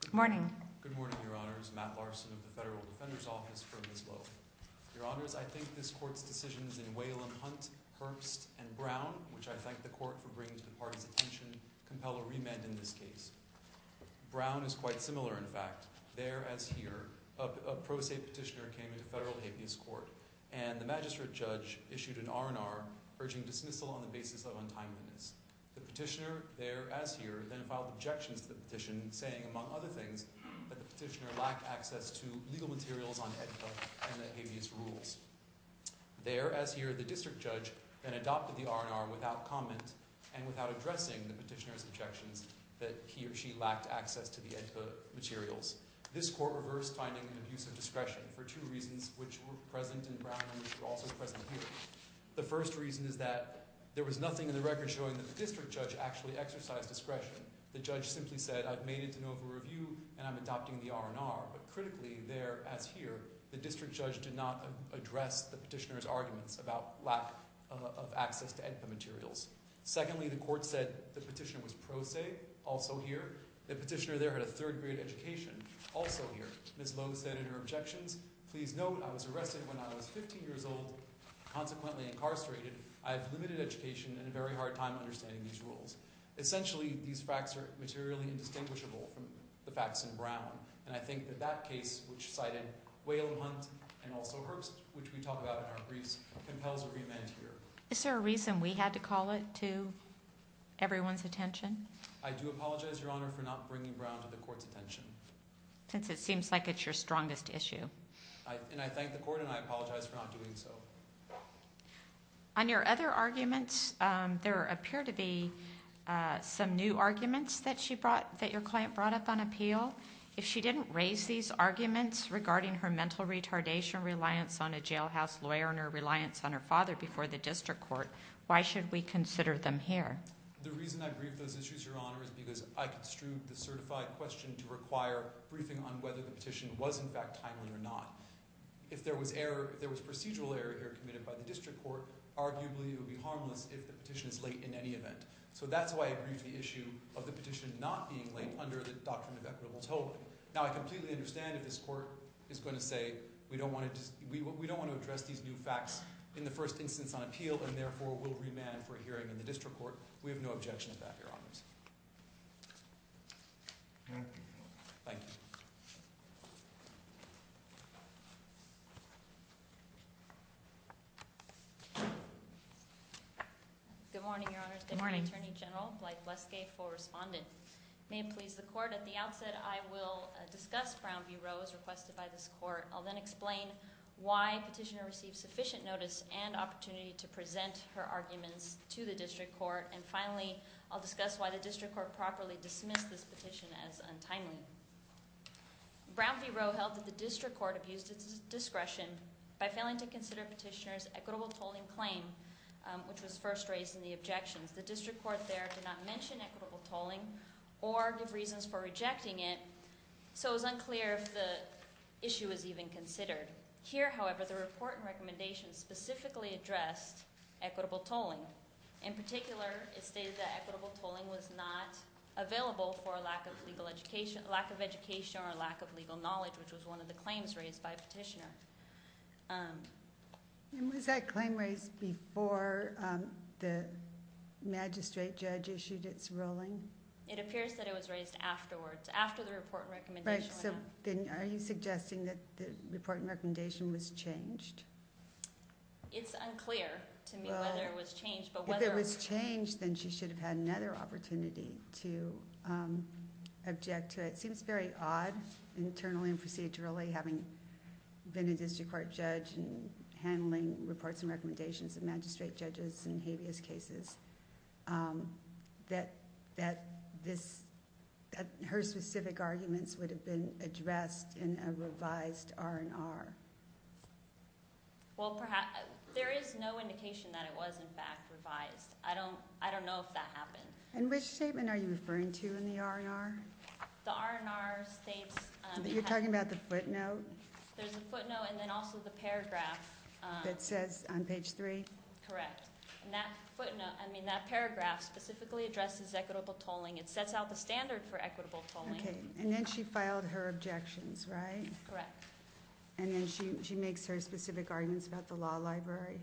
Good morning. Good morning, Your Honors. Matt Larson of the Federal Defender's Office for Ms. Lowe. Your Honors, I think this Court's decisions in Whalum, Hunt, Herbst, and Brown, which I thank the Court for bringing to the party's attention, compel a remand in this case. Brown is quite similar, in fact. There, as here, a pro se petitioner came into federal habeas court, and the magistrate judge issued an R&R urging dismissal on the basis of untimeliness. The petitioner, there as here, then filed objections to the petition, saying, among other things, that the petitioner lacked access to legal materials on AEDPA and the habeas rules. There, as here, the district judge then adopted the R&R without comment and without addressing the petitioner's objections that he or she lacked access to the AEDPA materials. This Court reversed finding an abuse of discretion for two reasons, which were present in Brown and which were also present here. The first reason is that there was nothing in the record showing that the district judge actually exercised discretion. The judge simply said, I've made it to know of a review, and I'm adopting the R&R. But critically, there as here, the district judge did not address the petitioner's arguments about lack of access to AEDPA materials. Secondly, the Court said the petitioner was pro se, also here. The petitioner there had a third grade education, also here. Ms. Lowe said in her objections, Please note, I was arrested when I was 15 years old, consequently incarcerated. I have limited education and a very hard time understanding these rules. Essentially, these facts are materially indistinguishable from the facts in Brown. And I think that that case, which cited Whalum Hunt and also Herbst, which we talk about in our briefs, compels a remand here. Is there a reason we had to call it to everyone's attention? I do apologize, Your Honor, for not bringing Brown to the Court's attention. Since it seems like it's your strongest issue. And I thank the Court, and I apologize for not doing so. On your other arguments, there appear to be some new arguments that your client brought up on appeal. If she didn't raise these arguments regarding her mental retardation, reliance on a jailhouse lawyer, and her reliance on her father before the district court, why should we consider them here? The reason I briefed those issues, Your Honor, is because I construed the certified question to require briefing on whether the petition was, in fact, timely or not. If there was procedural error here committed by the district court, arguably it would be harmless if the petition is late in any event. So that's why I briefed the issue of the petition not being late under the doctrine of equitable tolling. Now, I completely understand if this Court is going to say, we don't want to address these new facts in the first instance on appeal, and therefore we'll remand for a hearing in the district court. We have no objection to that, Your Honors. Thank you, Your Honor. Thank you. Good morning, Your Honors. Good morning, Attorney General. Blythe Leskay for Respondent. May it please the Court, at the outset I will discuss Brown v. Rose requested by this Court. I'll then explain why Petitioner received sufficient notice and opportunity to present her arguments to the district court. And finally, I'll discuss why the district court properly dismissed this petition as untimely. Brown v. Rose held that the district court abused its discretion by failing to consider Petitioner's equitable tolling claim, which was first raised in the objections. The district court there did not mention equitable tolling or give reasons for rejecting it, so it was unclear if the issue was even considered. Here, however, the report and recommendation specifically addressed equitable tolling. In particular, it stated that equitable tolling was not available for a lack of education or a lack of legal knowledge, which was one of the claims raised by Petitioner. And was that claim raised before the magistrate judge issued its ruling? It appears that it was raised afterwards. After the report and recommendation went out. Right, so then are you suggesting that the report and recommendation was changed? It's unclear to me whether it was changed. If it was changed, then she should have had another opportunity to object to it. It seems very odd, internally and procedurally, having been a district court judge and handling reports and recommendations of magistrate judges in habeas cases, that her specific arguments would have been addressed in a revised R&R. Well, there is no indication that it was, in fact, revised. I don't know if that happened. And which statement are you referring to in the R&R? The R&R states that- You're talking about the footnote? There's a footnote and then also the paragraph- That says on page 3? Correct. And that footnote, I mean that paragraph, specifically addresses equitable tolling. It sets out the standard for equitable tolling. Okay, and then she filed her objections, right? Correct. And then she makes her specific arguments about the law library?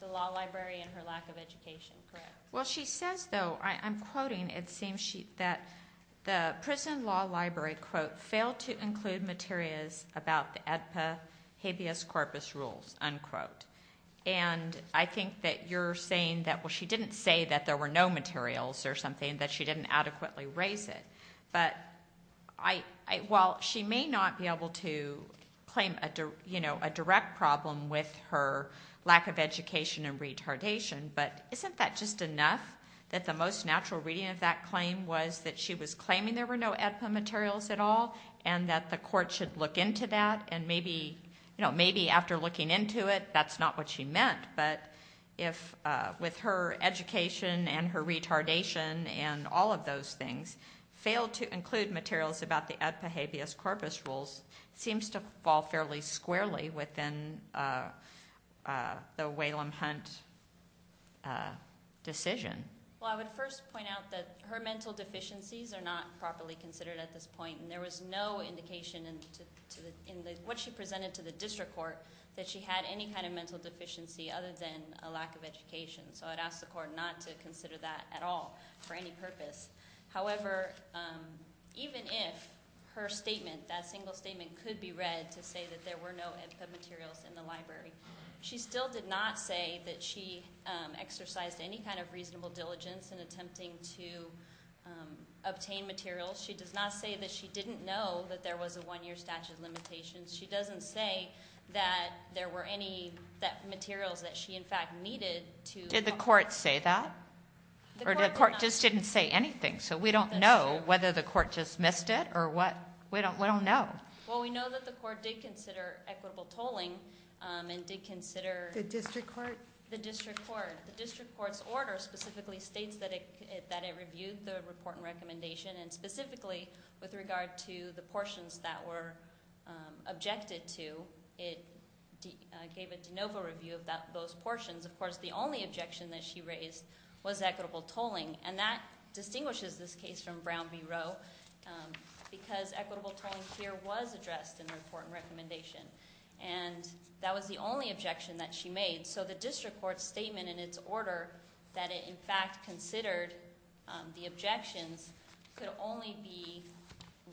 The law library and her lack of education, correct. Well, she says, though, I'm quoting, it seems that the prison law library, quote, failed to include materials about the AEDPA habeas corpus rules, unquote. And I think that you're saying that, well, she didn't say that there were no materials or something, that she didn't adequately raise it. But while she may not be able to claim a direct problem with her lack of education and retardation, but isn't that just enough that the most natural reading of that claim was that she was claiming there were no AEDPA materials at all and that the court should look into that? And maybe after looking into it, that's not what she meant, but with her education and her retardation and all of those things, failed to include materials about the AEDPA habeas corpus rules seems to fall fairly squarely within the Whalum Hunt decision. Well, I would first point out that her mental deficiencies are not properly considered at this point, and there was no indication in what she presented to the district court that she had any kind of mental deficiency other than a lack of education. So I'd ask the court not to consider that at all for any purpose. However, even if her statement, that single statement, could be read to say that there were no AEDPA materials in the library, she still did not say that she exercised any kind of reasonable diligence in attempting to obtain materials. She does not say that she didn't know that there was a one-year statute of limitations. She doesn't say that there were any materials that she, in fact, needed to... Did the court say that? The court did not. Or the court just didn't say anything, so we don't know whether the court just missed it or what? We don't know. Well, we know that the court did consider equitable tolling and did consider... The district court? The district court. The district court's order specifically states that it reviewed the report and recommendation and specifically with regard to the portions that were objected to, it gave a de novo review of those portions. Of course, the only objection that she raised was equitable tolling, and that distinguishes this case from Brown v. Roe because equitable tolling here was addressed in the report and recommendation, and that was the only objection that she made. The objections could only be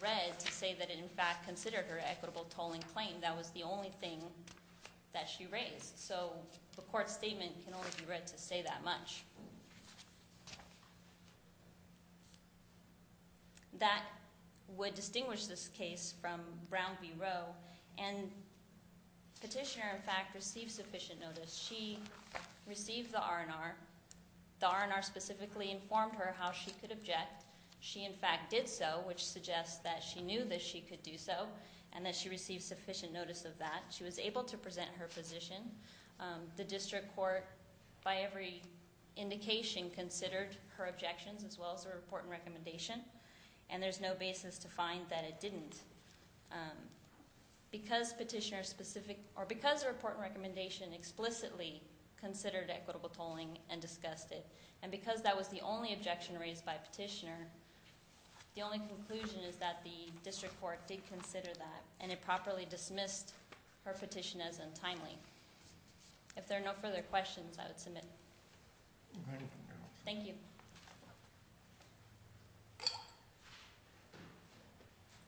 read to say that it, in fact, considered her equitable tolling claim. That was the only thing that she raised, so the court statement can only be read to say that much. That would distinguish this case from Brown v. Roe, and the petitioner, in fact, received sufficient notice. She received the R&R. The R&R specifically informed her how she could object. She, in fact, did so, which suggests that she knew that she could do so and that she received sufficient notice of that. She was able to present her position. The district court, by every indication, considered her objections as well as her report and recommendation, and there's no basis to find that it didn't. Because the report and recommendation explicitly considered equitable tolling and discussed it, and because that was the only objection raised by the petitioner, the only conclusion is that the district court did consider that and it properly dismissed her petition as untimely. If there are no further questions, I would submit. Thank you.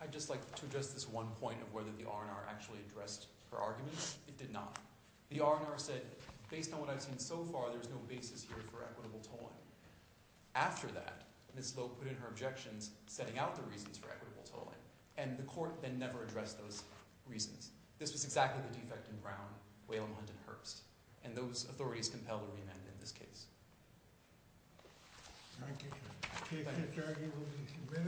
I'd just like to address this one point of whether the R&R actually addressed her arguments. It did not. The R&R said, based on what I've seen so far, there's no basis here for equitable tolling. After that, Ms. Loeb put in her objections, setting out the reasons for equitable tolling, and the court then never addressed those reasons. This was exactly the defect in Brown, Wayland Hunt, and Hurst, and those authorities compelled a remand in this case. Thank you.